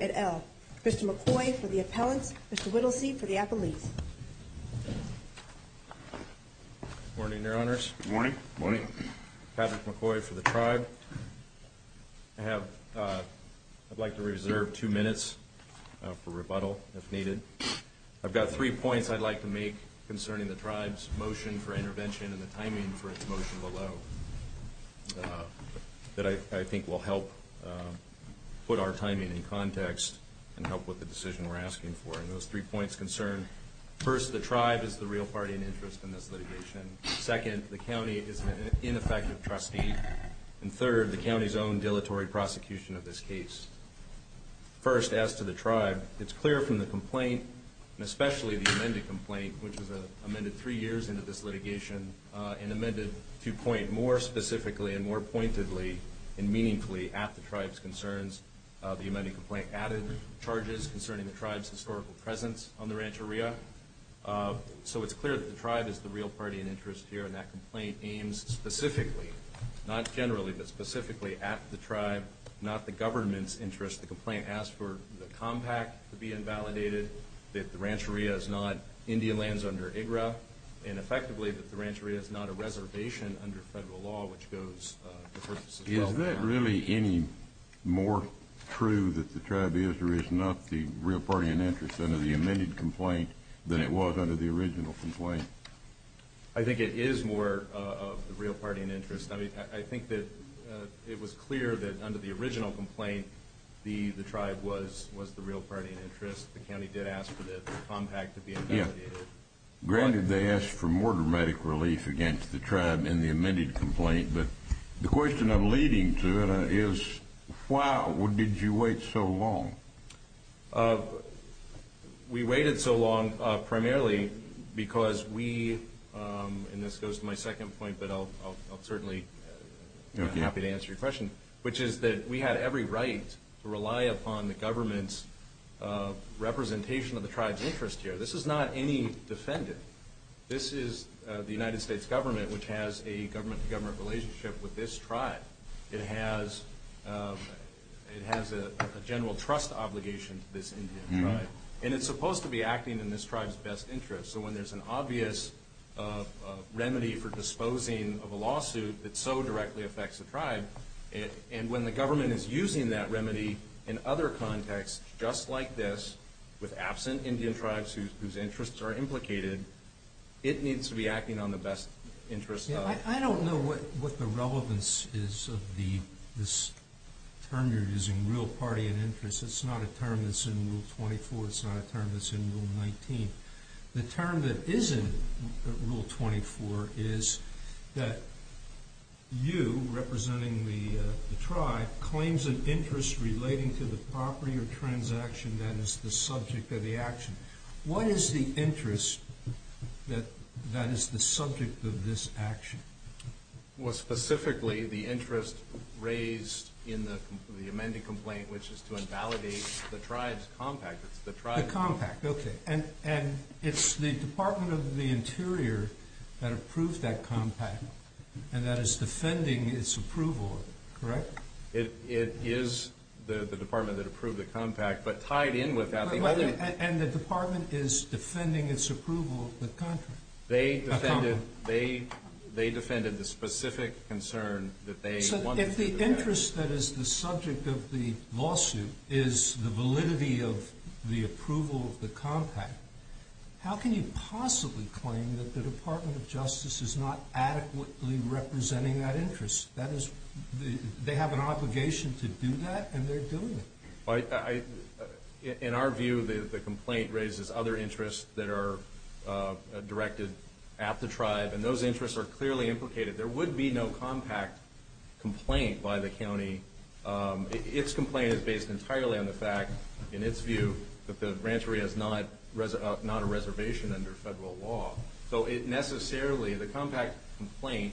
at L. Mr. McCoy for the appellants, Mr. Whittlesey for the appellees. Good morning, your honors. Good morning. Patrick McCoy for the tribe. I'd like to reserve two minutes for rebuttal, if needed. I've got three points I'd like to make concerning the tribe's motion for intervention and the timing for its motion below that I think will help put our timing in context and help with the decision we're asking for. First, the tribe is the real party in interest in this litigation. Second, the county is an ineffective trustee. And third, the county's own dilatory prosecution of this case. First, as to the tribe, it's clear from the complaint, and especially the amended complaint, which was amended three years into this litigation and amended to point more specifically and more pointedly and meaningfully at the tribe's concerns. The amended complaint added charges concerning the tribe's historical presence on the Rancheria. So it's clear that the tribe is the real party in interest here, and that complaint aims specifically, not generally, but specifically at the tribe, not the government's interest. The complaint asked for the compact to be invalidated, that the Rancheria is not Indian lands under IGRA, and effectively, that the Rancheria is not a reservation under federal law, which goes to purpose as well. Is that really any more true that the tribe is or is not the real party in interest under the amended complaint than it was under the original complaint? I think it is more of the real party in interest. I mean, I think that it was clear that under the original complaint, the tribe was the real party in interest. The county did ask for the compact to be invalidated. Granted, they asked for more dramatic relief against the tribe in the amended complaint, but the question I'm leading to is, why did you wait so long? We waited so long primarily because we – and this goes to my second point, but I'll certainly be happy to answer your question – which is that we had every right to rely upon the government's representation of the tribe's interest here. This is not any defendant. This is the United States government, which has a government-to-government relationship with this tribe. It has a general trust obligation to this Indian tribe, and it's supposed to be acting in this tribe's best interest. So when there's an obvious remedy for disposing of a lawsuit that so directly affects the tribe, and when the government is using that remedy in other contexts, just like this, with absent Indian tribes whose interests are implicated, it needs to be acting on the best interest of the tribe. The concern that is in Rule 24 is that you, representing the tribe, claims an interest relating to the property or transaction that is the subject of the action. What is the interest that is the subject of this action? Well, specifically, the interest raised in the amended complaint, which is to invalidate the tribe's compact. The compact, okay. And it's the Department of the Interior that approved that compact, and that is defending its approval of it, correct? It is the department that approved the compact, but tied in with that – And the department is defending its approval of the contract. They defended the specific concern that they wanted to do that. So if the interest that is the subject of the lawsuit is the validity of the approval of the compact, how can you possibly claim that the Department of Justice is not adequately representing that interest? That is, they have an obligation to do that, and they're doing it. In our view, the complaint raises other interests that are directed at the tribe, and those interests are clearly implicated. There would be no compact complaint by the county. Its complaint is based entirely on the fact, in its view, that the ranchery is not a reservation under federal law. So it necessarily, the compact complaint,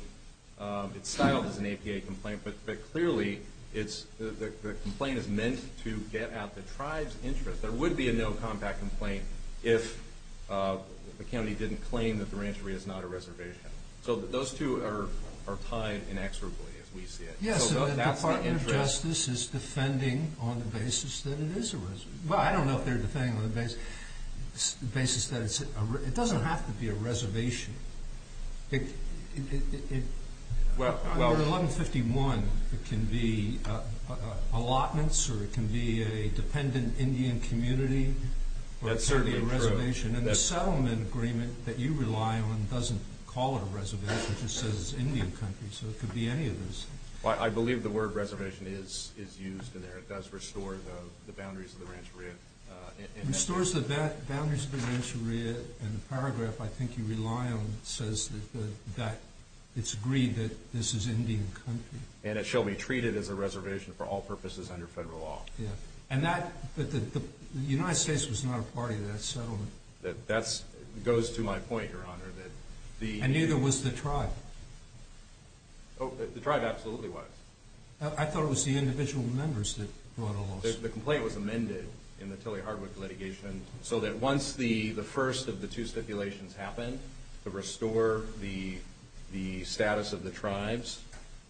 it's styled as an APA complaint, but clearly the complaint is meant to get at the tribe's interest. There would be a no compact complaint if the county didn't claim that the ranchery is not a reservation. So those two are tied inexorably, as we see it. Yes, so the Department of Justice is defending on the basis that it is a reservation. Well, I don't know if they're defending on the basis that it's a reservation. It doesn't have to be a reservation. Under 1151, it can be allotments, or it can be a dependent Indian community, or it can be a reservation. That's certainly true. And the settlement agreement that you rely on doesn't call it a reservation. It just says Indian country, so it could be any of those things. I believe the word reservation is used in there. It does restore the boundaries of the ranchery. Restores the boundaries of the ranchery, and the paragraph I think you rely on says that it's agreed that this is Indian country. And it shall be treated as a reservation for all purposes under federal law. But the United States was not a part of that settlement. That goes to my point, Your Honor. And neither was the tribe. The tribe absolutely was. I thought it was the individual members that brought all this. The complaint was amended in the Tilley-Hardwick litigation so that once the first of the two stipulations happened to restore the status of the tribes,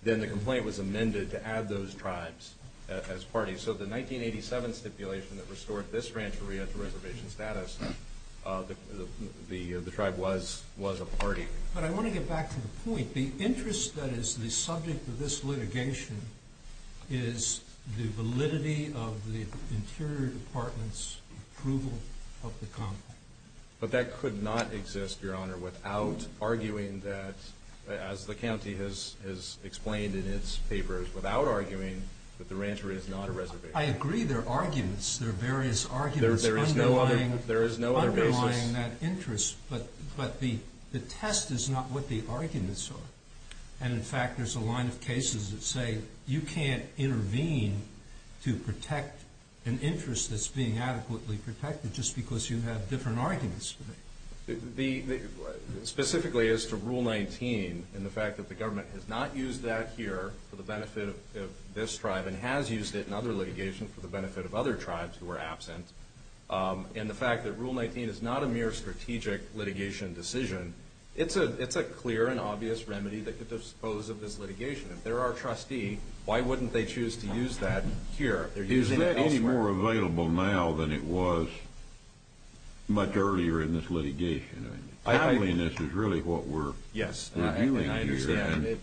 then the complaint was amended to add those tribes as parties. So the 1987 stipulation that restored this ranchery as a reservation status, the tribe was a party. But I want to get back to the point. The interest that is the subject of this litigation is the validity of the Interior Department's approval of the complaint. But that could not exist, Your Honor, without arguing that, as the county has explained in its papers, without arguing that the ranchery is not a reservation. I agree there are arguments. There are various arguments underlying that interest. But the test is not what the arguments are. And, in fact, there's a line of cases that say you can't intervene to protect an interest that's being adequately protected just because you have different arguments. Specifically as to Rule 19 and the fact that the government has not used that here for the benefit of this tribe and has used it in other litigation for the benefit of other tribes who are absent, and the fact that Rule 19 is not a mere strategic litigation decision, it's a clear and obvious remedy that could dispose of this litigation. If they're our trustee, why wouldn't they choose to use that here? Is that any more available now than it was much earlier in this litigation? Timeliness is really what we're doing here.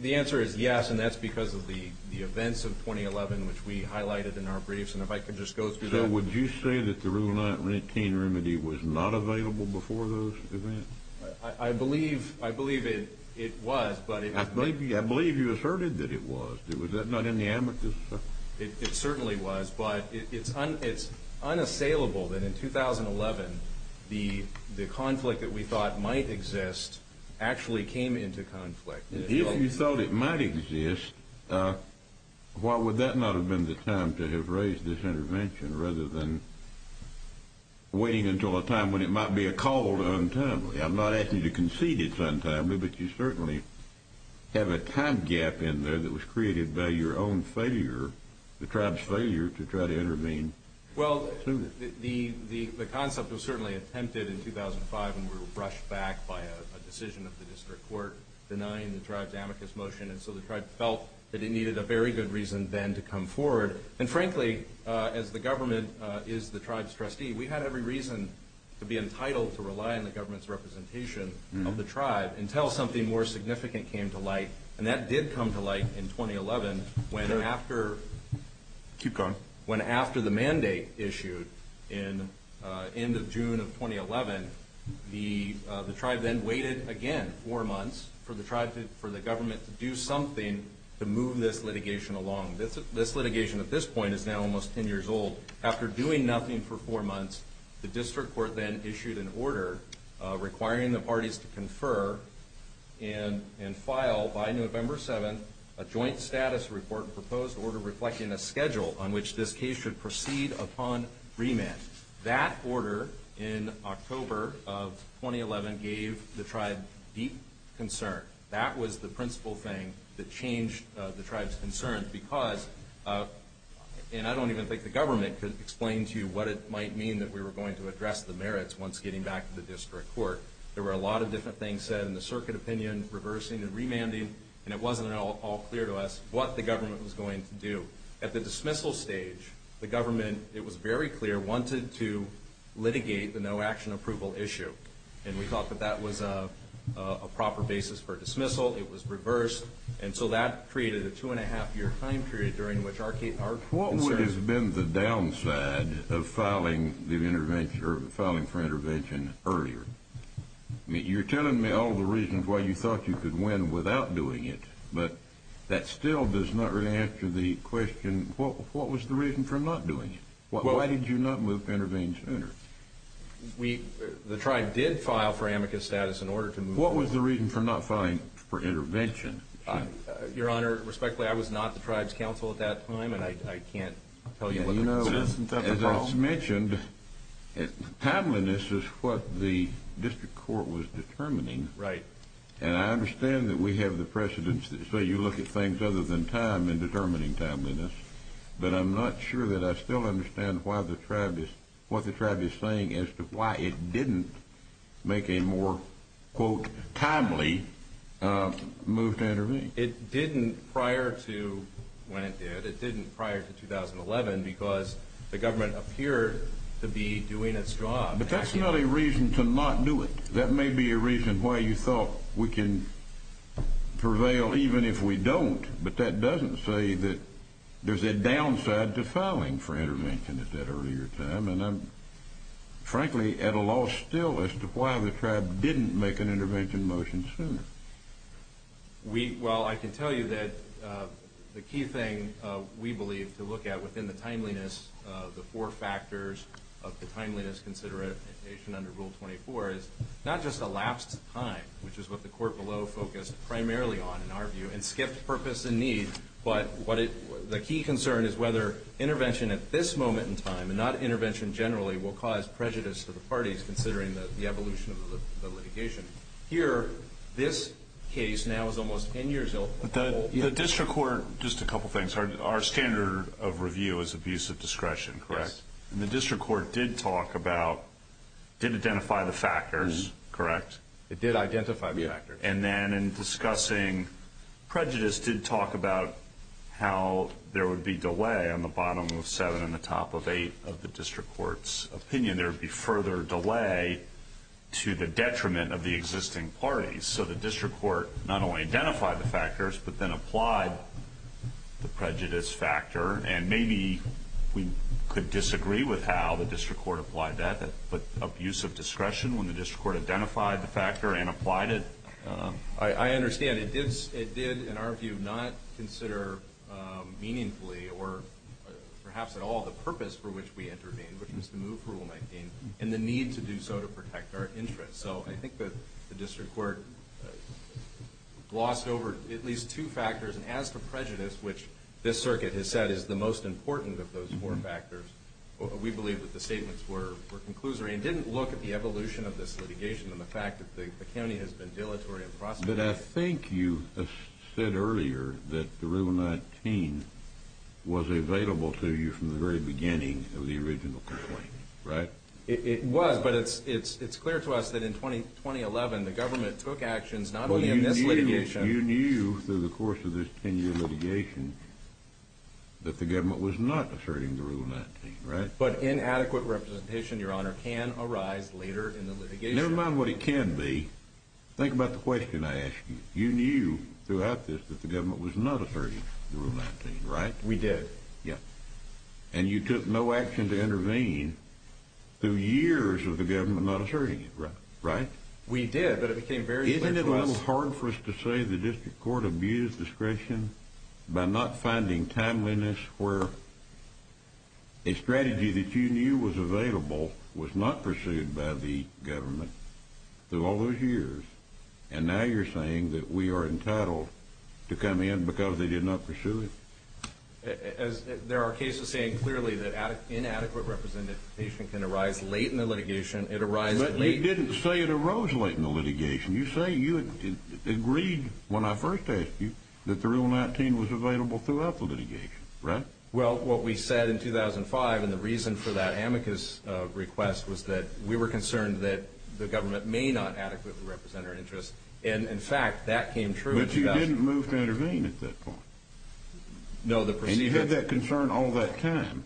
The answer is yes, and that's because of the events of 2011, which we highlighted in our briefs. So would you say that the Rule 19 remedy was not available before those events? I believe it was. I believe you asserted that it was. Was that not in the amicus? It certainly was, but it's unassailable that in 2011 the conflict that we thought might exist actually came into conflict. If you thought it might exist, why would that not have been the time to have raised this intervention rather than waiting until a time when it might be a call to untimely? I'm not asking you to concede it's untimely, but you certainly have a time gap in there that was created by your own failure, the tribe's failure, to try to intervene. Well, the concept was certainly attempted in 2005, and we were brushed back by a decision of the district court denying the tribe's amicus motion. And so the tribe felt that it needed a very good reason then to come forward. And frankly, as the government is the tribe's trustee, we've had every reason to be entitled to rely on the government's representation of the tribe until something more significant came to light. And that did come to light in 2011 when after the mandate issued in the end of June of 2011, the tribe then waited again four months for the government to do something to move this litigation along. This litigation at this point is now almost 10 years old. After doing nothing for four months, the district court then issued an order requiring the parties to confer and file by November 7th a joint status report and proposed order reflecting a schedule on which this case should proceed upon remand. That order in October of 2011 gave the tribe deep concern. That was the principal thing that changed the tribe's concerns because, and I don't even think the government could explain to you what it might mean that we were going to address the merits once getting back to the district court. There were a lot of different things said in the circuit opinion, reversing and remanding, and it wasn't at all clear to us what the government was going to do. At the dismissal stage, the government, it was very clear, wanted to litigate the no action approval issue, and we thought that that was a proper basis for dismissal. It was reversed, and so that created a two-and-a-half-year time period during which our concerns What has been the downside of filing for intervention earlier? You're telling me all the reasons why you thought you could win without doing it, but that still does not really answer the question, what was the reason for not doing it? Why did you not move to intervene sooner? The tribe did file for amicus status in order to move forward. What was the reason for not filing for intervention? Your Honor, respectfully, I was not the tribe's counsel at that time, and I can't tell you what the reason was. You know, as I mentioned, timeliness is what the district court was determining, and I understand that we have the precedents that say you look at things other than time in determining timeliness, but I'm not sure that I still understand what the tribe is saying as to why it didn't make a more, quote, timely move to intervene. It didn't prior to when it did. It didn't prior to 2011 because the government appeared to be doing its job. But that's not a reason to not do it. That may be a reason why you thought we can prevail even if we don't, but that doesn't say that there's a downside to filing for intervention at that earlier time, and I'm frankly at a loss still as to why the tribe didn't make an intervention motion sooner. Well, I can tell you that the key thing we believe to look at within the timeliness, the four factors of the timeliness consideration under Rule 24 is not just elapsed time, which is what the court below focused primarily on in our view, and skipped purpose and need, but the key concern is whether intervention at this moment in time and not intervention generally will cause prejudice to the parties considering the evolution of the litigation. Here, this case now is almost 10 years old. The district court, just a couple things. Our standard of review is abuse of discretion, correct? Yes. And the district court did talk about, did identify the factors, correct? It did identify the factors. And then in discussing prejudice, did talk about how there would be delay on the bottom of 7 and the top of 8 of the district court's opinion. There would be further delay to the detriment of the existing parties. So the district court not only identified the factors, but then applied the prejudice factor, and maybe we could disagree with how the district court applied that, but abuse of discretion when the district court identified the factor and applied it. I understand. It did, in our view, not consider meaningfully or perhaps at all the purpose for which we intervened, which was to move Rule 19, and the need to do so to protect our interests. So I think that the district court glossed over at least two factors, and as for prejudice, which this circuit has said is the most important of those four factors, we believe that the statements were conclusory and didn't look at the evolution of this litigation and the fact that the county has been dilatory in prosecuting it. But I think you said earlier that the Rule 19 was available to you from the very beginning of the original complaint, right? It was, but it's clear to us that in 2011 the government took actions not only in this litigation. You knew through the course of this 10-year litigation that the government was not asserting the Rule 19, right? But inadequate representation, Your Honor, can arise later in the litigation. Never mind what it can be. Think about the question I asked you. You knew throughout this that the government was not asserting the Rule 19, right? We did. And you took no action to intervene through years of the government not asserting it, right? We did, but it became very clear to us. Is it so hard for us to say the district court abused discretion by not finding timeliness where a strategy that you knew was available was not pursued by the government through all those years, and now you're saying that we are entitled to come in because they did not pursue it? There are cases saying clearly that inadequate representation can arise late in the litigation. It arises late in the litigation. You say you agreed when I first asked you that the Rule 19 was available throughout the litigation, right? Well, what we said in 2005 and the reason for that amicus request was that we were concerned that the government may not adequately represent our interests. And, in fact, that came true in 2011. But you didn't move to intervene at that point. And you had that concern all that time.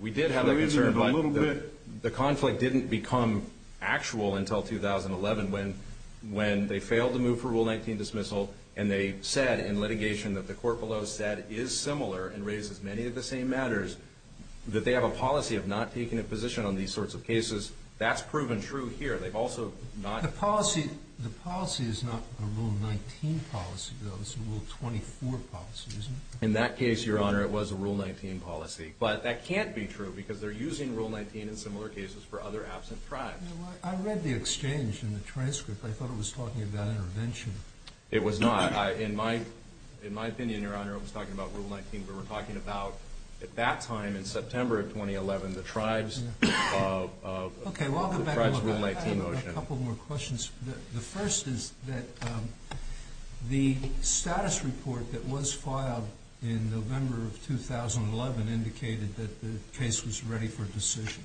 We did have that concern. The conflict didn't become actual until 2011 when they failed to move for Rule 19 dismissal and they said in litigation that the court below said is similar and raises many of the same matters that they have a policy of not taking a position on these sorts of cases. That's proven true here. The policy is not a Rule 19 policy, though. It's a Rule 24 policy, isn't it? In that case, Your Honor, it was a Rule 19 policy. But that can't be true because they're using Rule 19 in similar cases for other absent tribes. I read the exchange in the transcript. I thought it was talking about intervention. It was not. In my opinion, Your Honor, it was talking about Rule 19. We were talking about, at that time in September of 2011, the tribes of the Tribes Rule 19 motion. Okay. Well, I'll go back and look. I have a couple more questions. The first is that the status report that was filed in November of 2011 indicated that the case was ready for decision.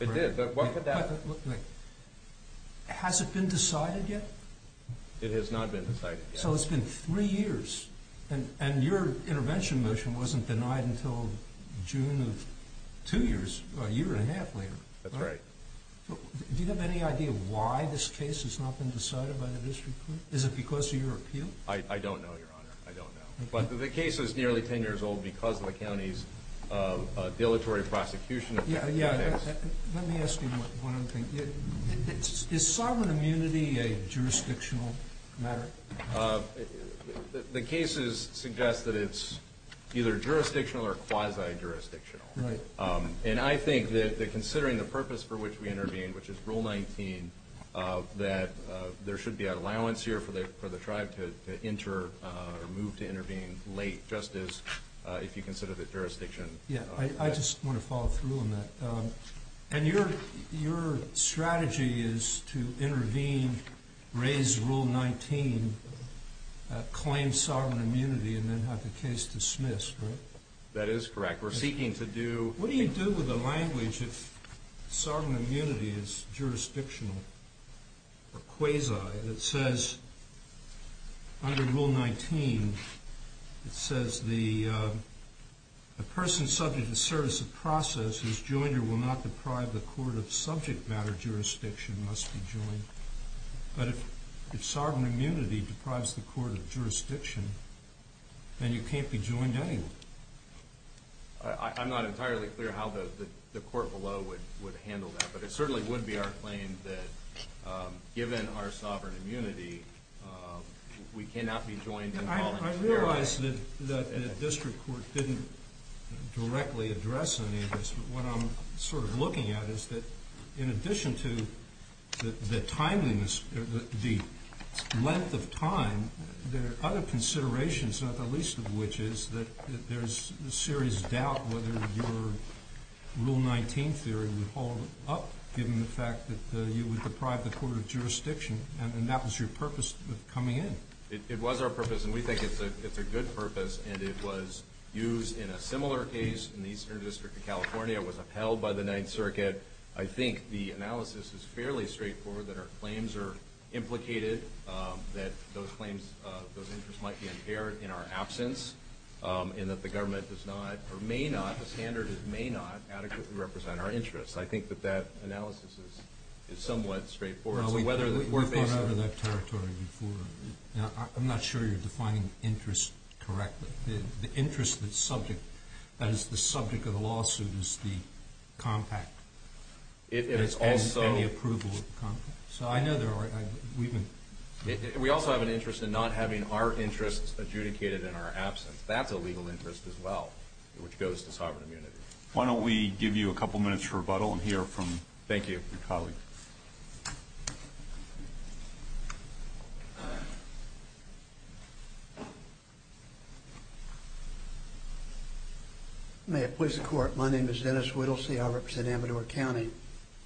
It did. Has it been decided yet? It has not been decided yet. So it's been three years. And your intervention motion wasn't denied until June of two years, a year and a half later. That's right. Do you have any idea why this case has not been decided by the district court? Is it because of your appeal? I don't know, Your Honor. I don't know. But the case is nearly 10 years old because of the county's dilatory prosecution. Yeah, it is. Let me ask you one other thing. Is sovereign immunity a jurisdictional matter? The cases suggest that it's either jurisdictional or quasi-jurisdictional. Right. And I think that considering the purpose for which we intervene, which is Rule 19, that there should be an allowance here for the tribe to move to intervene late, just as if you consider the jurisdiction. Yeah, I just want to follow through on that. And your strategy is to intervene, raise Rule 19, claim sovereign immunity, and then have the case dismissed, right? That is correct. What do you do with the language if sovereign immunity is jurisdictional or quasi? It says under Rule 19, it says, A person subject to the service of process whose joinder will not deprive the court of subject matter jurisdiction must be joined. But if sovereign immunity deprives the court of jurisdiction, then you can't be joined anyway. I'm not entirely clear how the court below would handle that, but it certainly would be our claim that given our sovereign immunity, we cannot be joined in voluntary. I realize that the district court didn't directly address any of this, but what I'm sort of looking at is that in addition to the timeliness, the length of time, there are other considerations, not the least of which is that there's a serious doubt whether your Rule 19 theory would hold up, given the fact that you would deprive the court of jurisdiction, and that was your purpose of coming in. It was our purpose, and we think it's a good purpose, and it was used in a similar case in the Eastern District of California. It was upheld by the Ninth Circuit. I think the analysis is fairly straightforward that our claims are implicated, that those claims, those interests might be impaired in our absence, and that the government does not or may not, a standard that may not adequately represent our interests. I think that that analysis is somewhat straightforward. We've gone over that territory before. I'm not sure you're defining interest correctly. The interest that's subject, that is the subject of the lawsuit, is the compact. It is also. And the approval of the compact. So I know there are. We also have an interest in not having our interests adjudicated in our absence. That's a legal interest as well, which goes to sovereign immunity. Why don't we give you a couple minutes for rebuttal and hear from, thank you, your colleague. May it please the Court. My name is Dennis Whittlesey. I represent Amador County.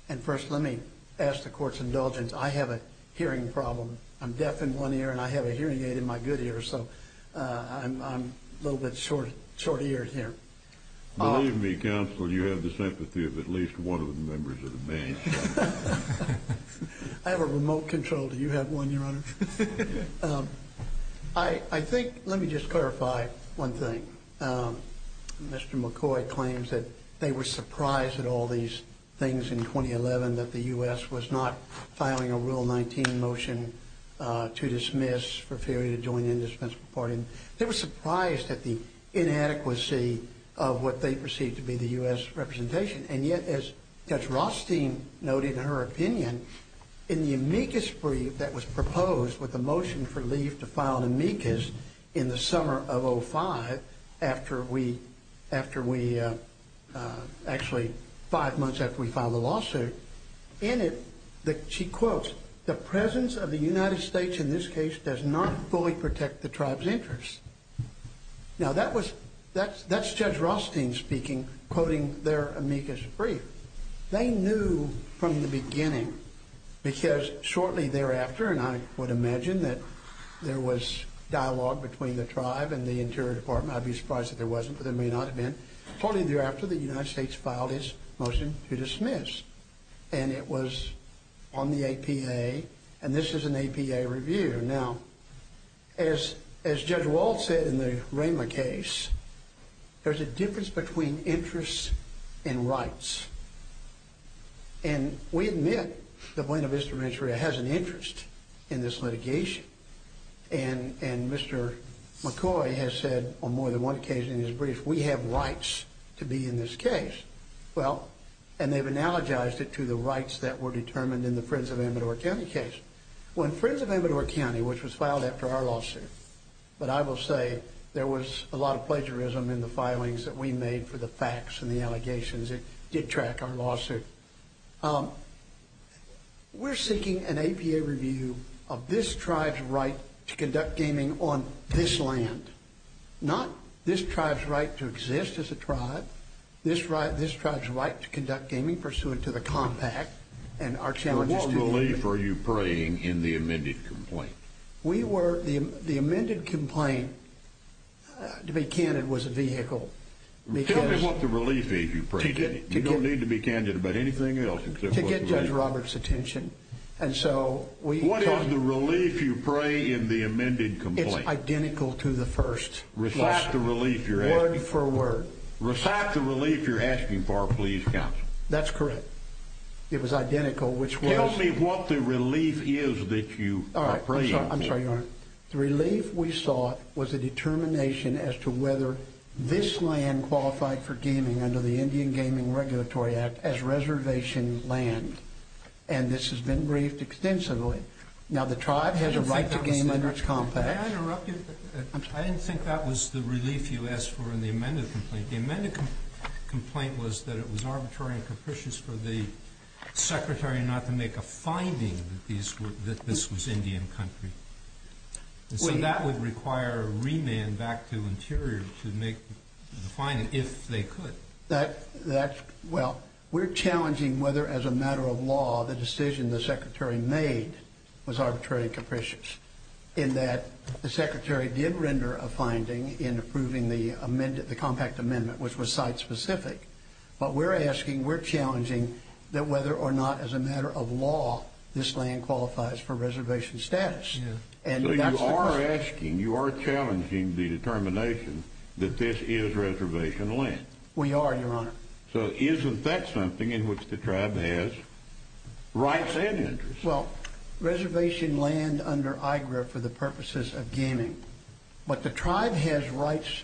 And first let me ask the Court's indulgence. I have a hearing problem. I'm deaf in one ear, and I have a hearing aid in my good ear, so I'm a little bit short-eared here. Believe me, Counselor, you have the sympathy of at least one of the members of the bench. I have a remote control. Do you have one, Your Honor? I think, let me just clarify one thing. Mr. McCoy claims that they were surprised at all these things in 2011, that the U.S. was not filing a Rule 19 motion to dismiss for failure to join the indispensable party. And they were surprised at the inadequacy of what they perceived to be the U.S. representation. And yet, as Judge Rothstein noted in her opinion, in the amicus brief that was proposed with the motion for leave to file an amicus in the summer of 2005, after we, actually five months after we filed the lawsuit, in it, she quotes, the presence of the United States in this case does not fully protect the tribe's interests. Now, that's Judge Rothstein speaking, quoting their amicus brief. They knew from the beginning, because shortly thereafter, and I would imagine that there was dialogue between the tribe and the Interior Department. I'd be surprised if there wasn't, but there may not have been. Shortly thereafter, the United States filed its motion to dismiss. And it was on the APA. And this is an APA review. Now, as Judge Wald said in the Raymer case, there's a difference between interests and rights. And we admit that Buena Vista Rancheria has an interest in this litigation. And Mr. McCoy has said on more than one occasion in his brief, we have rights to be in this case. Well, and they've analogized it to the rights that were determined in the Friends of Amador County case. When Friends of Amador County, which was filed after our lawsuit, but I will say, there was a lot of plagiarism in the filings that we made for the facts and the allegations. It did track our lawsuit. We're seeking an APA review of this tribe's right to conduct gaming on this land. Not this tribe's right to exist as a tribe. This tribe's right to conduct gaming pursuant to the compact. And what relief are you praying in the amended complaint? The amended complaint, to be candid, was a vehicle. Tell me what the relief is you prayed in it. You don't need to be candid about anything else. To get Judge Roberts' attention. What is the relief you pray in the amended complaint? It's identical to the first. Reflect the relief you're asking for. Word for word. Reflect the relief you're asking for, please, counsel. That's correct. It was identical, which was... Tell me what the relief is that you are praying for. All right. I'm sorry, Your Honor. The relief we sought was a determination as to whether this land qualified for gaming under the Indian Gaming Regulatory Act as reservation land. And this has been briefed extensively. Now, the tribe has a right to game under its compact. May I interrupt you? I'm sorry. I didn't think that was the relief you asked for in the amended complaint. The amended complaint was that it was arbitrary and capricious for the Secretary not to make a finding that this was Indian country. And so that would require a remand back to Interior to make the finding, if they could. Well, we're challenging whether, as a matter of law, the decision the Secretary made was arbitrary and capricious in that the Secretary did render a finding in approving the compact amendment, which was site-specific. But we're asking, we're challenging that whether or not, as a matter of law, this land qualifies for reservation status. So you are asking, you are challenging the determination that this is reservation land. We are, Your Honor. So isn't that something in which the tribe has rights and interests? Well, reservation land under AIGRA for the purposes of gaming. But the tribe has rights.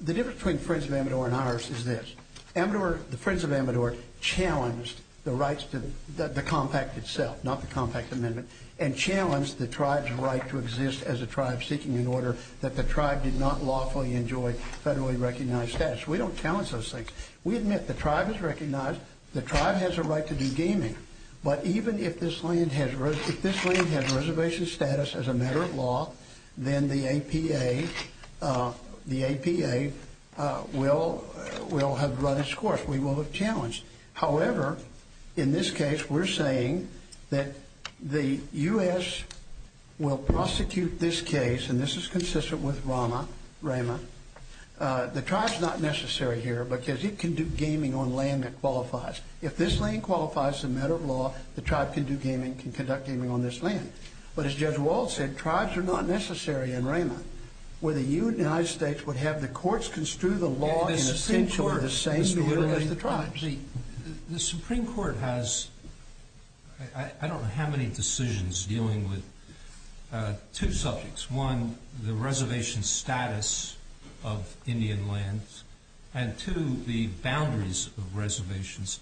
The difference between Friends of Amador and ours is this. The Friends of Amador challenged the rights to the compact itself, not the compact amendment, and challenged the tribe's right to exist as a tribe seeking an order that the tribe did not lawfully enjoy federally recognized status. We don't challenge those things. The tribe has a right to do gaming. But even if this land has reservation status as a matter of law, then the APA will have run its course. We will have challenged. However, in this case, we're saying that the U.S. will prosecute this case, and this is consistent with RAMA, the tribe's not necessary here because it can do gaming on land that qualifies. If this land qualifies as a matter of law, the tribe can do gaming, can conduct gaming on this land. But as Judge Wald said, tribes are not necessary in RAMA, where the United States would have the courts construe the law in essentially the same way as the tribes. The Supreme Court has I don't know how many decisions dealing with two subjects. One, the reservation status of Indian lands, and two, the boundaries of reservations.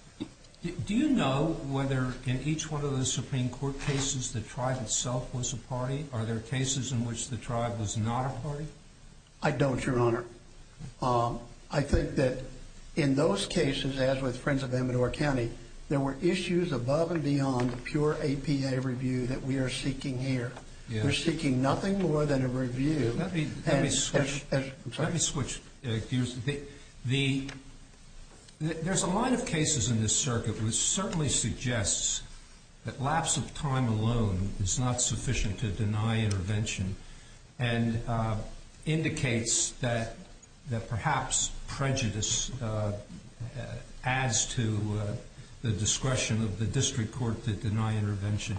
Do you know whether in each one of those Supreme Court cases the tribe itself was a party? Are there cases in which the tribe was not a party? I don't, Your Honor. I think that in those cases, as with Friends of Amador County, there were issues above and beyond pure APA review that we are seeking here. We're seeking nothing more than a review. Let me switch gears. There's a line of cases in this circuit which certainly suggests that lapse of time alone is not sufficient to deny intervention and indicates that perhaps prejudice adds to the discretion of the district court to deny intervention.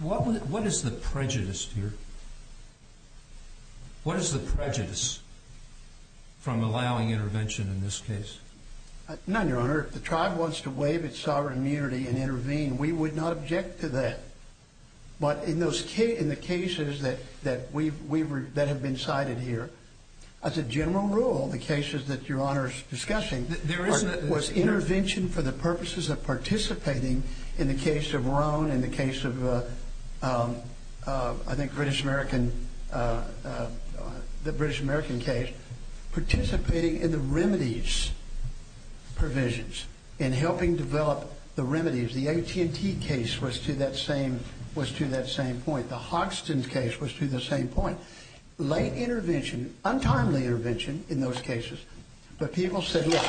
What is the prejudice here? What is the prejudice from allowing intervention in this case? None, Your Honor. If the tribe wants to waive its sovereign immunity and intervene, we would not object to that. But in the cases that have been cited here, as a general rule, the cases that Your Honor is discussing was intervention for the purposes of participating in the case of Roan and the case of, I think, the British American case, participating in the remedies provisions and helping develop the remedies. The AT&T case was to that same point. The Hoxton case was to the same point. Late intervention, untimely intervention in those cases. But people said, look,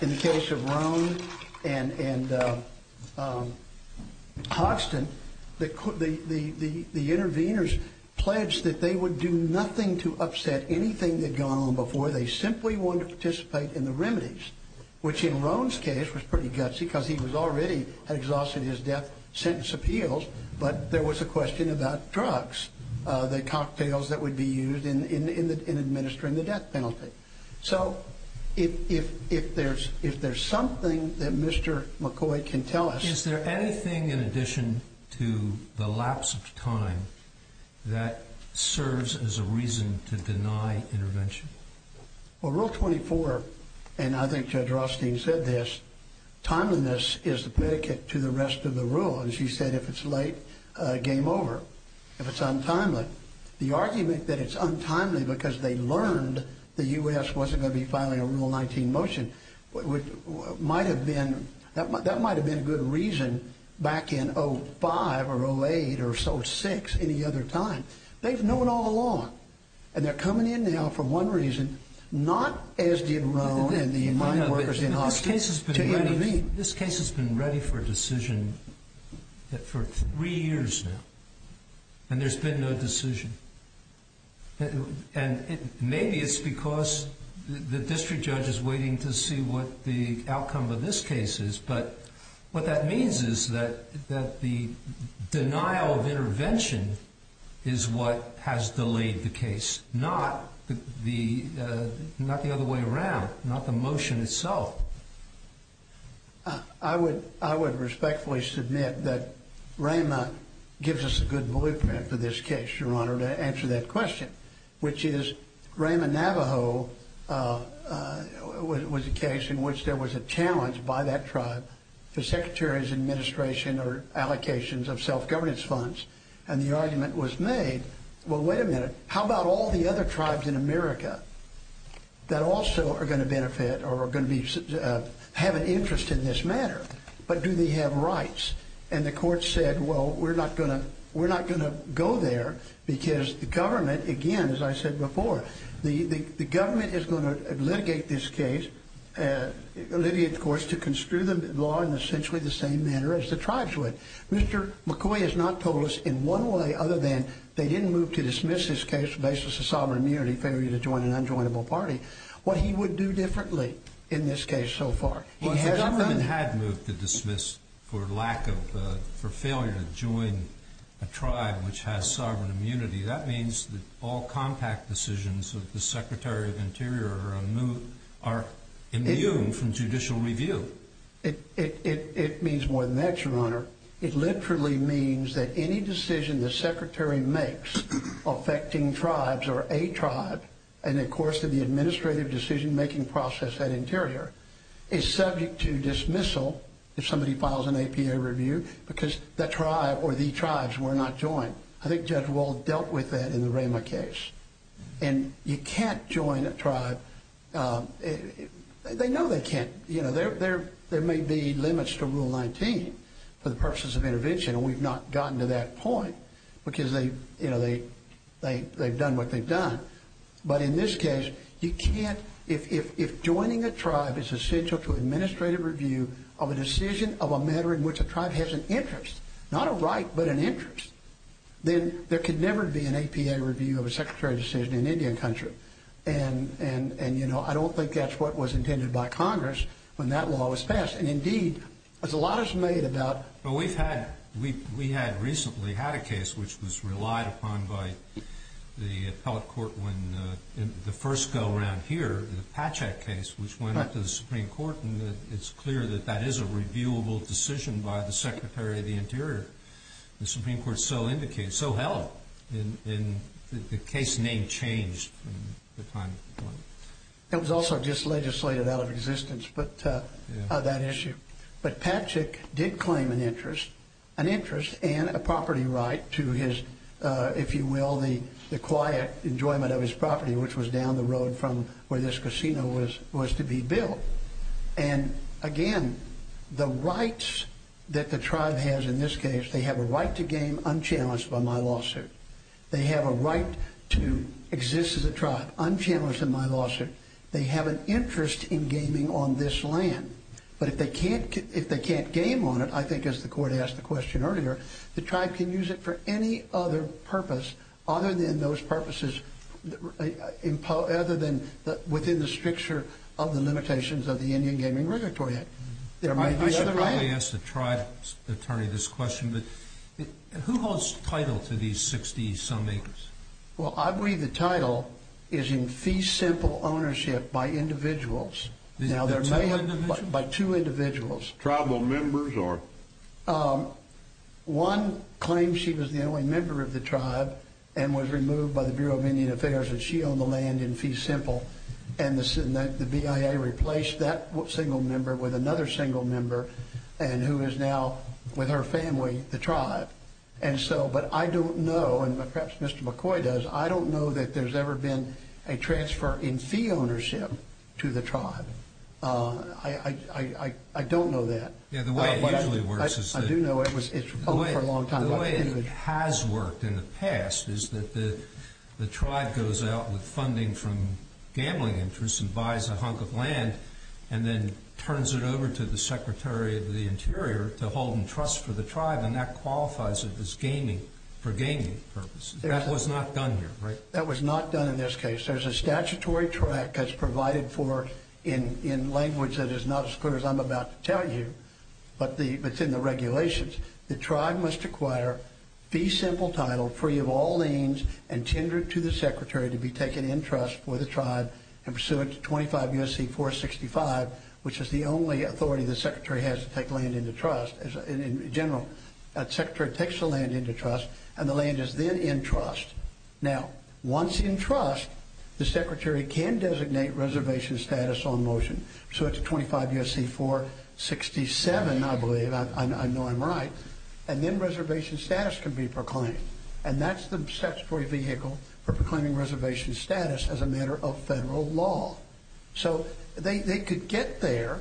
in the case of Roan and Hoxton, the interveners pledged that they would do nothing to upset anything they'd gone on before. They simply wanted to participate in the remedies, which in Roan's case was pretty gutsy because he was already exhausted his death sentence appeals, but there was a question about drugs, the cocktails that would be used in administering the death penalty. So if there's something that Mr. McCoy can tell us. Is there anything in addition to the lapse of time that serves as a reason to deny intervention? Well, Rule 24, and I think Judge Rothstein said this, timeliness is the predicate to the rest of the rule. And she said if it's late, game over. If it's untimely. The argument that it's untimely because they learned the U.S. wasn't going to be filing a Rule 19 motion might have been, that might have been a good reason back in 05 or 08 or 06, any other time. They've known all along. And they're coming in now for one reason, not as did Roan and the mind workers in Hoxton to intervene. This case has been ready for a decision for three years now. And there's been no decision. And maybe it's because the district judge is waiting to see what the outcome of this case is. But what that means is that the denial of intervention is what has delayed the case. Not the other way around. Not the motion itself. I would respectfully submit that Rhema gives us a good blueprint for this case, Your Honor, to answer that question, which is Rhema, Navajo was a case in which there was a challenge by that tribe for secretaries, administration, or allocations of self-governance funds. And the argument was made, well, wait a minute, how about all the other tribes in America that also are going to benefit or are going to have an interest in this matter? But do they have rights? And the court said, well, we're not going to go there because the government, again, as I said before, the government is going to litigate this case, litigate the courts to construe the law in essentially the same manner as the tribes would. Mr. McCoy has not told us in one way other than they didn't move to dismiss this case on the basis of sovereign immunity, failure to join an unjoinable party, what he would do differently in this case so far. Well, if the government had moved to dismiss for lack of, for failure to join a tribe which has sovereign immunity, that means that all compact decisions of the Secretary of Interior are immune from judicial review. It means more than that, Your Honor. It literally means that any decision the Secretary makes affecting tribes or a tribe, and of course to the administrative decision-making process at Interior, is subject to dismissal if somebody files an APA review because that tribe or the tribes were not joined. I think Judge Wald dealt with that in the Ramah case. And you can't join a tribe. They know they can't. There may be limits to Rule 19 for the purposes of intervention, and we've not gotten to that point because they've done what they've done. But in this case, you can't. If joining a tribe is essential to administrative review of a decision of a matter in which a tribe has an interest, not a right but an interest, then there could never be an APA review of a Secretary decision in Indian country. And, you know, I don't think that's what was intended by Congress when that law was passed. And, indeed, as a lot is made about. Well, we've had, we had recently had a case which was relied upon by the appellate court when the first go-around here, the Patchak case, which went up to the Supreme Court. And it's clear that that is a reviewable decision by the Secretary of the Interior. The Supreme Court so indicated, so held, and the case name changed from the time. It was also just legislated out of existence, but that issue. But Patchak did claim an interest, an interest and a property right to his, if you will, the quiet enjoyment of his property, which was down the road from where this casino was to be built. And, again, the rights that the tribe has in this case, they have a right to game unchallenged by my lawsuit. They have a right to exist as a tribe unchallenged in my lawsuit. They have an interest in gaming on this land. But if they can't game on it, I think, as the court asked the question earlier, the tribe can use it for any other purpose other than those purposes, other than within the stricture of the limitations of the Indian Gaming Regulatory Act. I should probably ask the tribe's attorney this question, but who holds title to these 60-some acres? Well, I believe the title is in fee-simple ownership by individuals. Now, there may have been by two individuals. Tribal members or? One claimed she was the only member of the tribe and was removed by the Bureau of Indian Affairs and she owned the land in fee-simple, and the BIA replaced that single member with another single member and who is now with her family, the tribe. But I don't know, and perhaps Mr. McCoy does, I don't know that there's ever been a transfer in fee ownership to the tribe. I don't know that. Yeah, the way it usually works is that the way it has worked in the past is that the tribe goes out with funding from gambling interests and buys a hunk of land and then turns it over to the Secretary of the Interior to hold in trust for the tribe and that qualifies it for gaming purposes. That was not done here, right? That was not done in this case. There's a statutory tract that's provided for in language that is not as clear as I'm about to tell you, but it's in the regulations. The tribe must acquire fee-simple title free of all liens and tendered to the Secretary to be taken in trust for the tribe and pursuant to 25 U.S.C. 465, which is the only authority the Secretary has to take land into trust. In general, the Secretary takes the land into trust and the land is then in trust. Now, once in trust, the Secretary can designate reservation status on motion. So it's 25 U.S.C. 467, I believe. I know I'm right. And then reservation status can be proclaimed. And that's the statutory vehicle for proclaiming reservation status as a matter of federal law. So they could get there,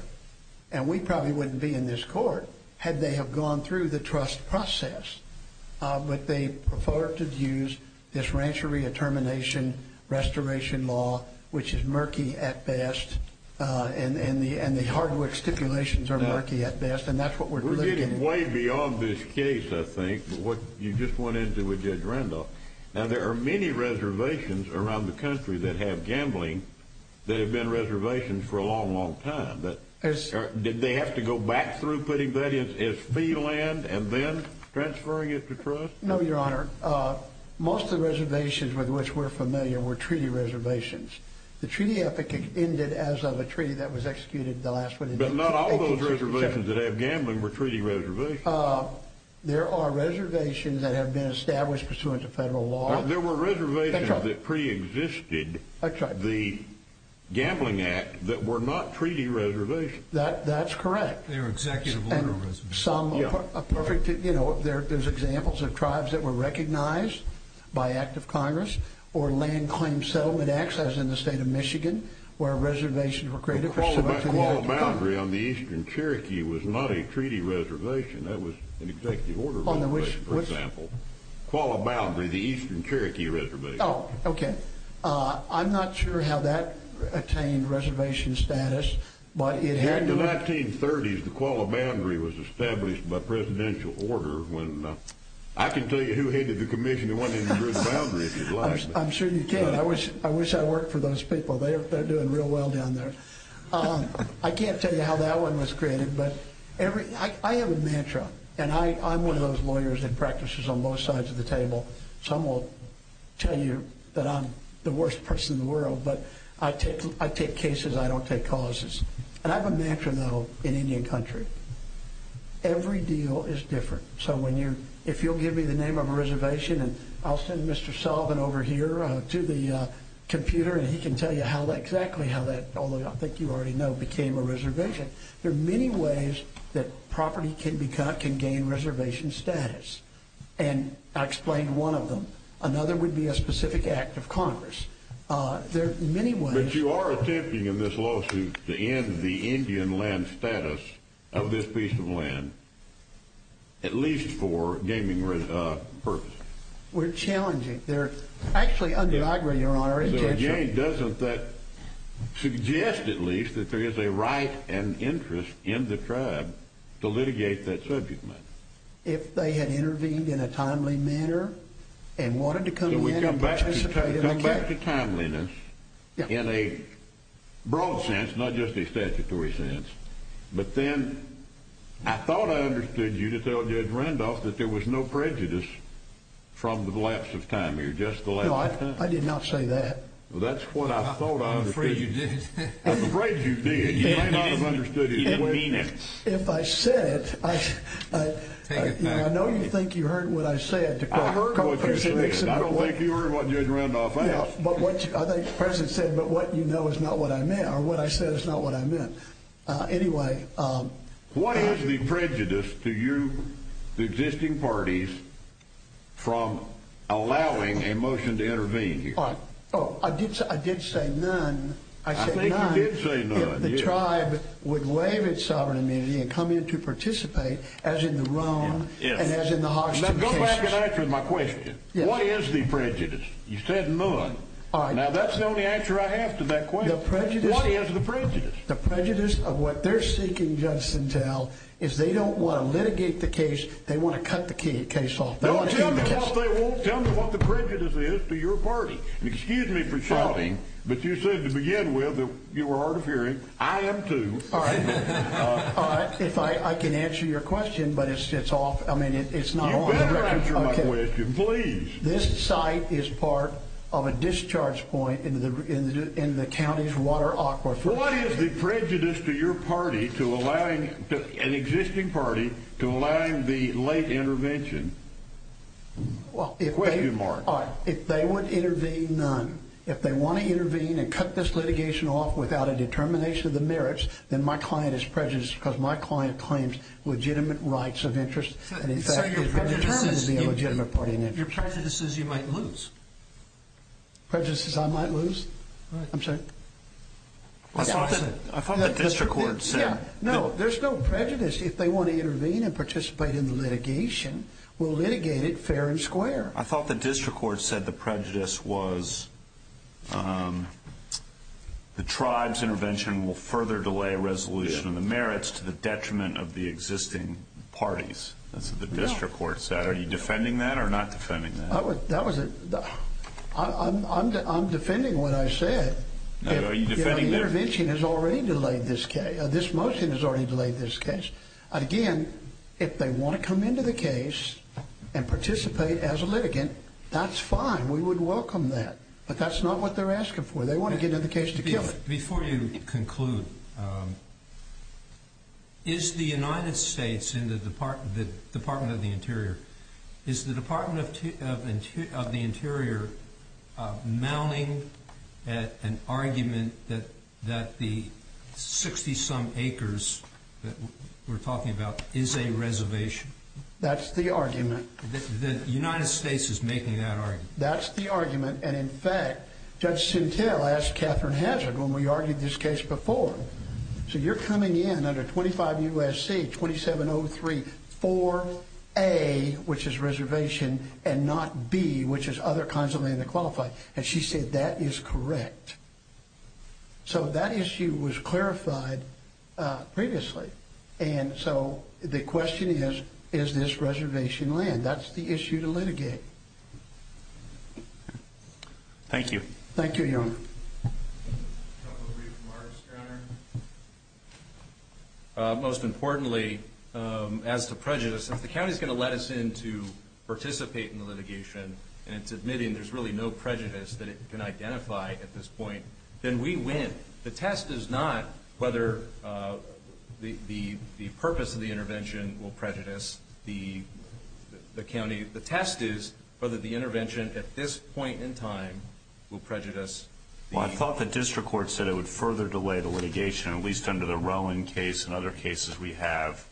and we probably wouldn't be in this court had they have gone through the trust process, but they prefer to use this rancher re-determination restoration law, which is murky at best, and the hardwood stipulations are murky at best, and that's what we're looking at. We're getting way beyond this case, I think, with what you just went into with Judge Randolph. Now, there are many reservations around the country that have gambling that have been reservations for a long, long time. Did they have to go back through putting that in as fee land and then transferring it to trust? No, Your Honor. Most of the reservations with which we're familiar were treaty reservations. The treaty ethic ended as of a treaty that was executed the last one in 1867. But not all those reservations that have gambling were treaty reservations. There are reservations that have been established pursuant to federal law. There were reservations that preexisted the Gambling Act that were not treaty reservations. That's correct. They were executive ordinal reservations. There's examples of tribes that were recognized by act of Congress or land claim settlement acts, as in the state of Michigan, Qualla Boundary on the eastern Cherokee was not a treaty reservation. That was an executive order reservation, for example. On which? Qualla Boundary, the eastern Cherokee reservation. Oh, okay. I'm not sure how that attained reservation status, but it had to. In the 1930s, the Qualla Boundary was established by presidential order. I can tell you who headed the commission that went into the boundary, if you'd like. I'm sure you can. I wish I worked for those people. They're doing real well down there. I can't tell you how that one was created, but I have a mantra. I'm one of those lawyers that practices on both sides of the table. Some will tell you that I'm the worst person in the world, but I take cases. I don't take causes. I have a mantra, though, in Indian country. Every deal is different. If you'll give me the name of a reservation, and I'll send Mr. Sullivan over here to the computer, and he can tell you exactly how that, although I think you already know, became a reservation. There are many ways that property can gain reservation status, and I explained one of them. Another would be a specific act of Congress. There are many ways. But you are attempting in this lawsuit to end the Indian land status of this piece of land, at least for gaming purposes. We're challenging. Actually, I agree, Your Honor. It doesn't suggest, at least, that there is a right and interest in the tribe to litigate that subject matter. If they had intervened in a timely manner and wanted to come in and participate in the case. So we come back to timeliness in a broad sense, not just a statutory sense. But then I thought I understood you to tell Judge Randolph that there was no prejudice from the lapse of time here, just the lapse of time. No, I did not say that. Well, that's what I thought I understood. I'm afraid you did. I'm afraid you did. You may not have understood it. You mean it. If I said it, I know you think you heard what I said. I heard what you said. I don't think you heard what Judge Randolph asked. I think the President said, but what you know is not what I meant, or what I said is not what I meant. Anyway. What is the prejudice to you, the existing parties, from allowing a motion to intervene here? Oh, I did say none. I said none. I think you did say none. If the tribe would waive its sovereign immunity and come in to participate, as in the Rome and as in the Hoxton cases. Now go back and answer my question. What is the prejudice? You said none. Now that's the only answer I have to that question. What is the prejudice? The prejudice of what they're seeking justice until is they don't want to litigate the case. They want to cut the case off. Tell me what the prejudice is to your party. Excuse me for shouting, but you said to begin with that you were hard of hearing. I am too. All right. If I can answer your question, but it's off. I mean, it's not on. You better answer my question, please. This site is part of a discharge point in the county's water aquifer. What is the prejudice to your party to allowing an existing party to allow the late intervention? Question mark. All right. If they would intervene, none. If they want to intervene and cut this litigation off without a determination of the merits, then my client is prejudiced because my client claims legitimate rights of interest. So your prejudice is you might lose. Prejudice is I might lose? I'm sorry? I thought the district court said. No, there's no prejudice if they want to intervene and participate in the litigation. We'll litigate it fair and square. I thought the district court said the prejudice was the tribe's intervention will further delay resolution of the merits to the detriment of the existing parties. That's what the district court said. Are you defending that or not defending that? I'm defending what I said. The intervention has already delayed this case. This motion has already delayed this case. Again, if they want to come into the case and participate as a litigant, that's fine. We would welcome that. But that's not what they're asking for. They want to get into the case to kill it. Before you conclude, is the United States and the Department of the Interior, is the Department of the Interior mounting an argument that the 60-some acres that we're talking about is a reservation? That's the argument. The United States is making that argument. That's the argument. In fact, Judge Sintel asked Katherine Hazard when we argued this case before, so you're coming in under 25 U.S.C., 27034A, which is reservation, and not B, which is other kinds of land to qualify. She said that is correct. That issue was clarified previously. The question is, is this reservation land? That's the issue to litigate. Thank you. Thank you, Your Honor. Most importantly, as to prejudice, if the county is going to let us in to participate in the litigation and it's admitting there's really no prejudice that it can identify at this point, then we win. The test is not whether the purpose of the intervention will prejudice the county. The test is whether the intervention at this point in time will prejudice the county. Well, I thought the district court said it would further delay the litigation, at least under the Rowan case and other cases we have.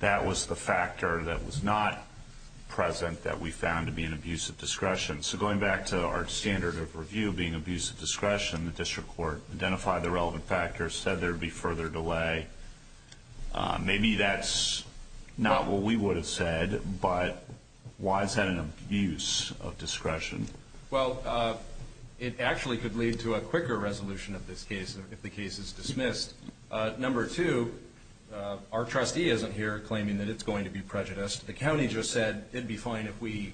That was the factor that was not present that we found to be an abuse of discretion. So going back to our standard of review being abuse of discretion, the district court identified the relevant factors, said there would be further delay. Maybe that's not what we would have said, but why is that an abuse of discretion? Well, it actually could lead to a quicker resolution of this case if the case is dismissed. Number two, our trustee isn't here claiming that it's going to be prejudiced. The county just said it would be fine if we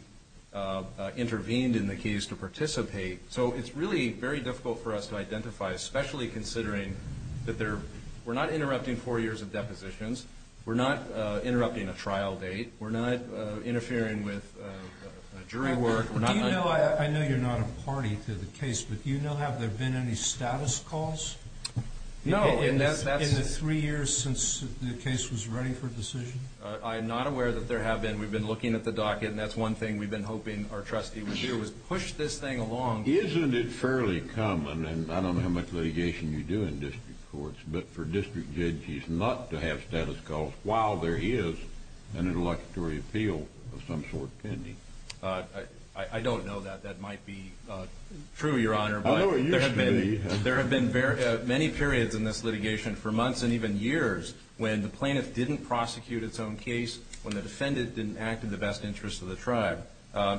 intervened in the case to participate. So it's really very difficult for us to identify, especially considering that we're not interrupting four years of depositions. We're not interrupting a trial date. We're not interfering with jury work. I know you're not a party to the case, but do you know have there been any status calls? No. In the three years since the case was ready for decision? I am not aware that there have been. We've been looking at the docket, and that's one thing we've been hoping our trustee would do, was push this thing along. Isn't it fairly common, and I don't know how much litigation you do in district courts, but for district judges not to have status calls while there is an interlocutory appeal of some sort pending? I don't know that that might be true, Your Honor. I know it used to be. There have been many periods in this litigation, for months and even years, when the plaintiff didn't prosecute its own case, when the defendant didn't act in the best interest of the tribe.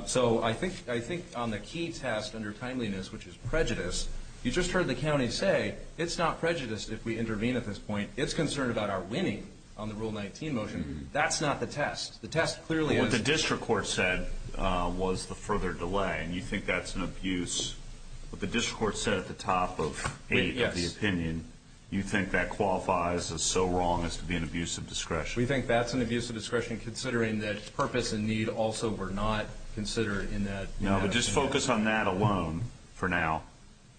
So I think on the key test under timeliness, which is prejudice, you just heard the county say it's not prejudice if we intervene at this point. It's concerned about our winning on the Rule 19 motion. That's not the test. The test clearly is. What the district court said was the further delay, and you think that's an abuse. What the district court said at the top of the opinion, you think that qualifies as so wrong as to be an abuse of discretion. We think that's an abuse of discretion, considering that purpose and need also were not considered in that. No, but just focus on that alone for now.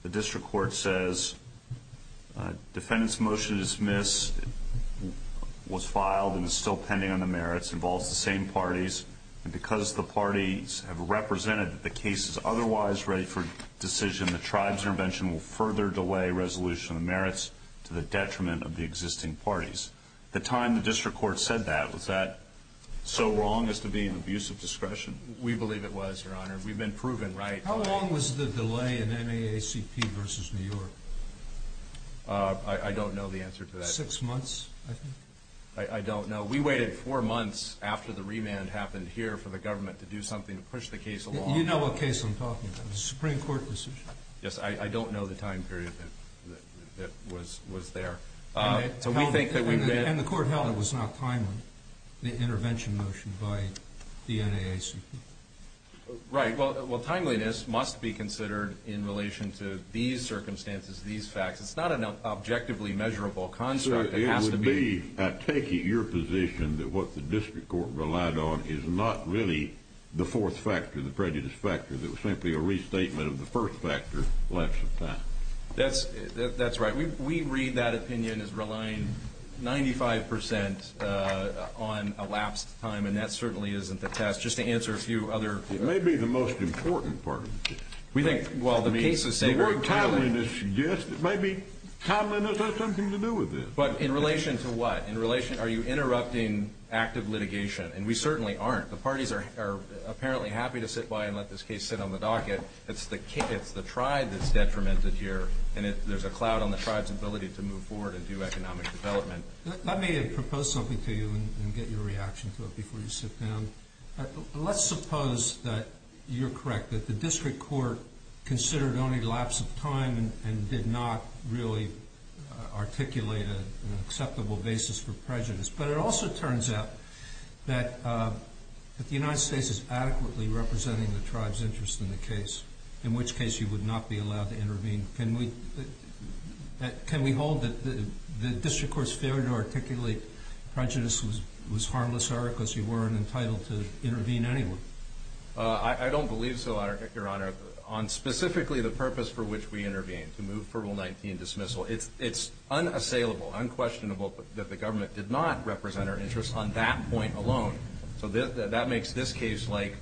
The district court says defendant's motion to dismiss was filed and is still pending on the merits, involves the same parties, and because the parties have represented that the case is otherwise ready for decision, the tribe's intervention will further delay resolution of merits to the detriment of the existing parties. The time the district court said that, was that so wrong as to be an abuse of discretion? We believe it was, Your Honor. We've been proven right. How long was the delay in NAACP versus New York? I don't know the answer to that. Six months, I think. I don't know. We waited four months after the remand happened here for the government to do something to push the case along. Do you know what case I'm talking about, the Supreme Court decision? Yes, I don't know the time period that was there. And the court held it was not timely, the intervention motion by the NAACP. Right. Well, timeliness must be considered in relation to these circumstances, these facts. It's not an objectively measurable construct. It would be, I take it, your position that what the district court relied on is not really the fourth factor, the prejudice factor, that was simply a restatement of the first factor, lapse of time. That's right. We read that opinion as relying 95% on a lapse of time, and that certainly isn't the test. Just to answer a few other questions. It may be the most important part of the case. We think, well, the cases say we're timely. Timeliness has something to do with this. But in relation to what? Are you interrupting active litigation? And we certainly aren't. The parties are apparently happy to sit by and let this case sit on the docket. It's the tribe that's detrimented here, and there's a cloud on the tribe's ability to move forward and do economic development. Let me propose something to you and get your reaction to it before you sit down. Let's suppose that you're correct, that the district court considered only lapse of time and did not really articulate an acceptable basis for prejudice. But it also turns out that the United States is adequately representing the tribe's interest in the case, in which case you would not be allowed to intervene. Can we hold that the district court's failure to articulate prejudice was harmless, Eric, because you weren't entitled to intervene anyway? I don't believe so, Your Honor. On specifically the purpose for which we intervened, to move for Rule 19 dismissal, it's unassailable, unquestionable that the government did not represent our interest on that point alone. So that makes this case like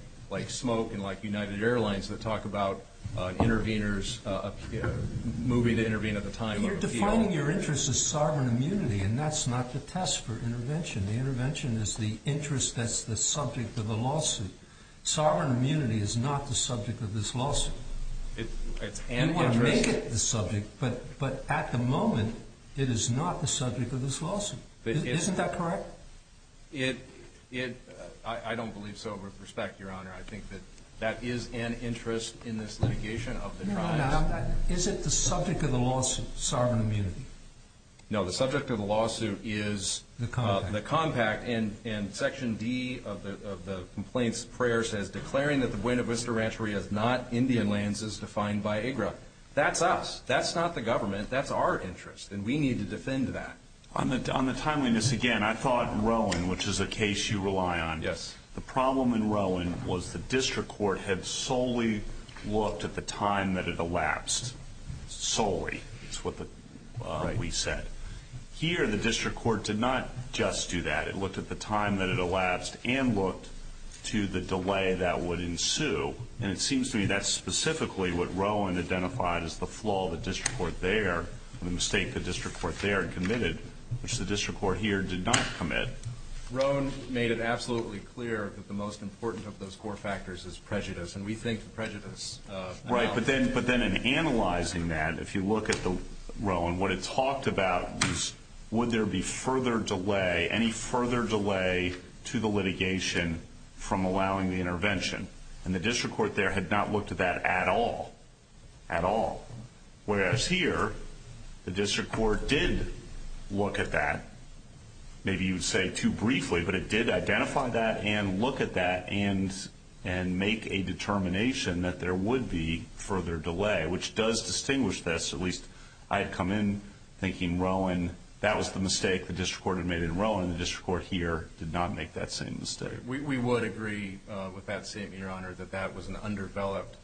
smoke and like United Airlines that talk about interveners, moving to intervene at the time of appeal. You're defining your interest as sovereign immunity, and that's not the test for intervention. The intervention is the interest that's the subject of the lawsuit. Sovereign immunity is not the subject of this lawsuit. You want to make it the subject, but at the moment it is not the subject of this lawsuit. Isn't that correct? I don't believe so with respect, Your Honor. I think that that is an interest in this litigation of the tribes. No, no, no. Is it the subject of the lawsuit, sovereign immunity? No, the subject of the lawsuit is the compact. And Section D of the complaints prayer says, declaring that the Buena Vista Rancheria is not Indian lands as defined by AGRA. That's us. That's not the government. That's our interest, and we need to defend that. On the timeliness, again, I thought Rowan, which is a case you rely on. Yes. The problem in Rowan was the district court had solely looked at the time that it elapsed. Solely is what we said. Here the district court did not just do that. It looked at the time that it elapsed and looked to the delay that would ensue, and it seems to me that's specifically what Rowan identified as the flaw of the district court there, the mistake the district court there had committed, which the district court here did not commit. Rowan made it absolutely clear that the most important of those core factors is prejudice, and we think prejudice. Right. But then in analyzing that, if you look at Rowan, what it talked about was would there be further delay, any further delay to the litigation from allowing the intervention. And the district court there had not looked at that at all, at all. Whereas here, the district court did look at that. Maybe you would say too briefly, but it did identify that and look at that and make a determination that there would be further delay, which does distinguish this. At least I had come in thinking Rowan, that was the mistake the district court had made in Rowan. The district court here did not make that same mistake. We would agree with that statement, Your Honor, that that was an underdeveloped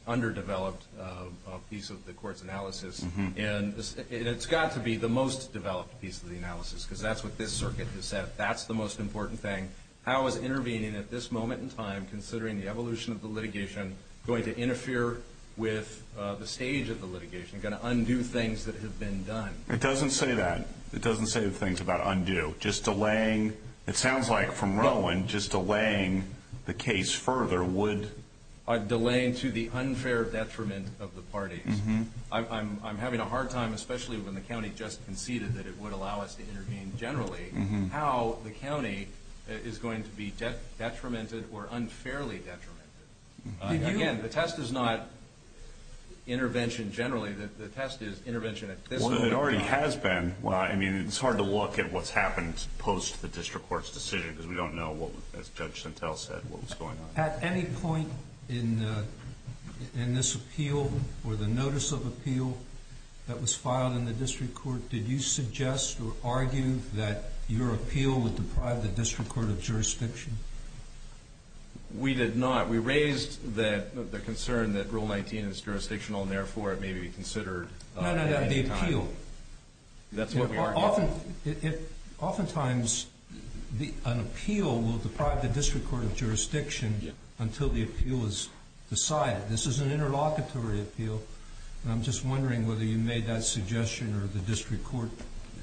piece of the court's analysis. And it's got to be the most developed piece of the analysis because that's what this circuit has said. That's the most important thing. How is intervening at this moment in time, considering the evolution of the litigation, going to interfere with the stage of the litigation, going to undo things that have been done? It doesn't say that. It doesn't say things about undo. Just delaying, it sounds like from Rowan, just delaying the case further would... Delaying to the unfair detriment of the parties. I'm having a hard time, especially when the county just conceded that it would allow us to intervene generally, how the county is going to be detrimented or unfairly detrimented. Again, the test is not intervention generally. The test is intervention at this moment in time. It already has been. I mean, it's hard to look at what's happened post the district court's decision because we don't know what, as Judge Santel said, what was going on. At any point in this appeal or the notice of appeal that was filed in the district court, did you suggest or argue that your appeal would deprive the district court of jurisdiction? We did not. We raised the concern that Rule 19 is jurisdictional and, therefore, it may be considered at any time. No, no, no, the appeal. That's what we argued. Oftentimes an appeal will deprive the district court of jurisdiction until the appeal is decided. This is an interlocutory appeal, and I'm just wondering whether you made that suggestion or the district court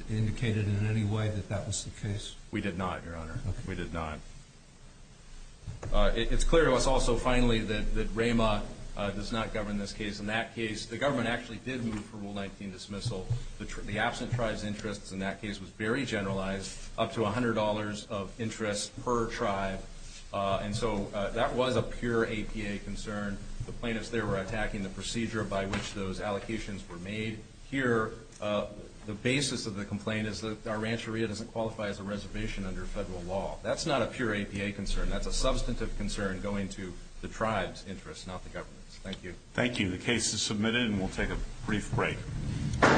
indicated in any way that that was the case. We did not, Your Honor. We did not. It's clear to us also, finally, that REMA does not govern this case. In that case, the government actually did move for Rule 19 dismissal. The absent tribe's interest in that case was very generalized, up to $100 of interest per tribe, and so that was a pure APA concern. The plaintiffs there were attacking the procedure by which those allocations were made. Here, the basis of the complaint is that our rancheria doesn't qualify as a reservation under federal law. That's not a pure APA concern. That's a substantive concern going to the tribe's interest, not the government's. Thank you. Thank you. The case is submitted, and we'll take a brief break.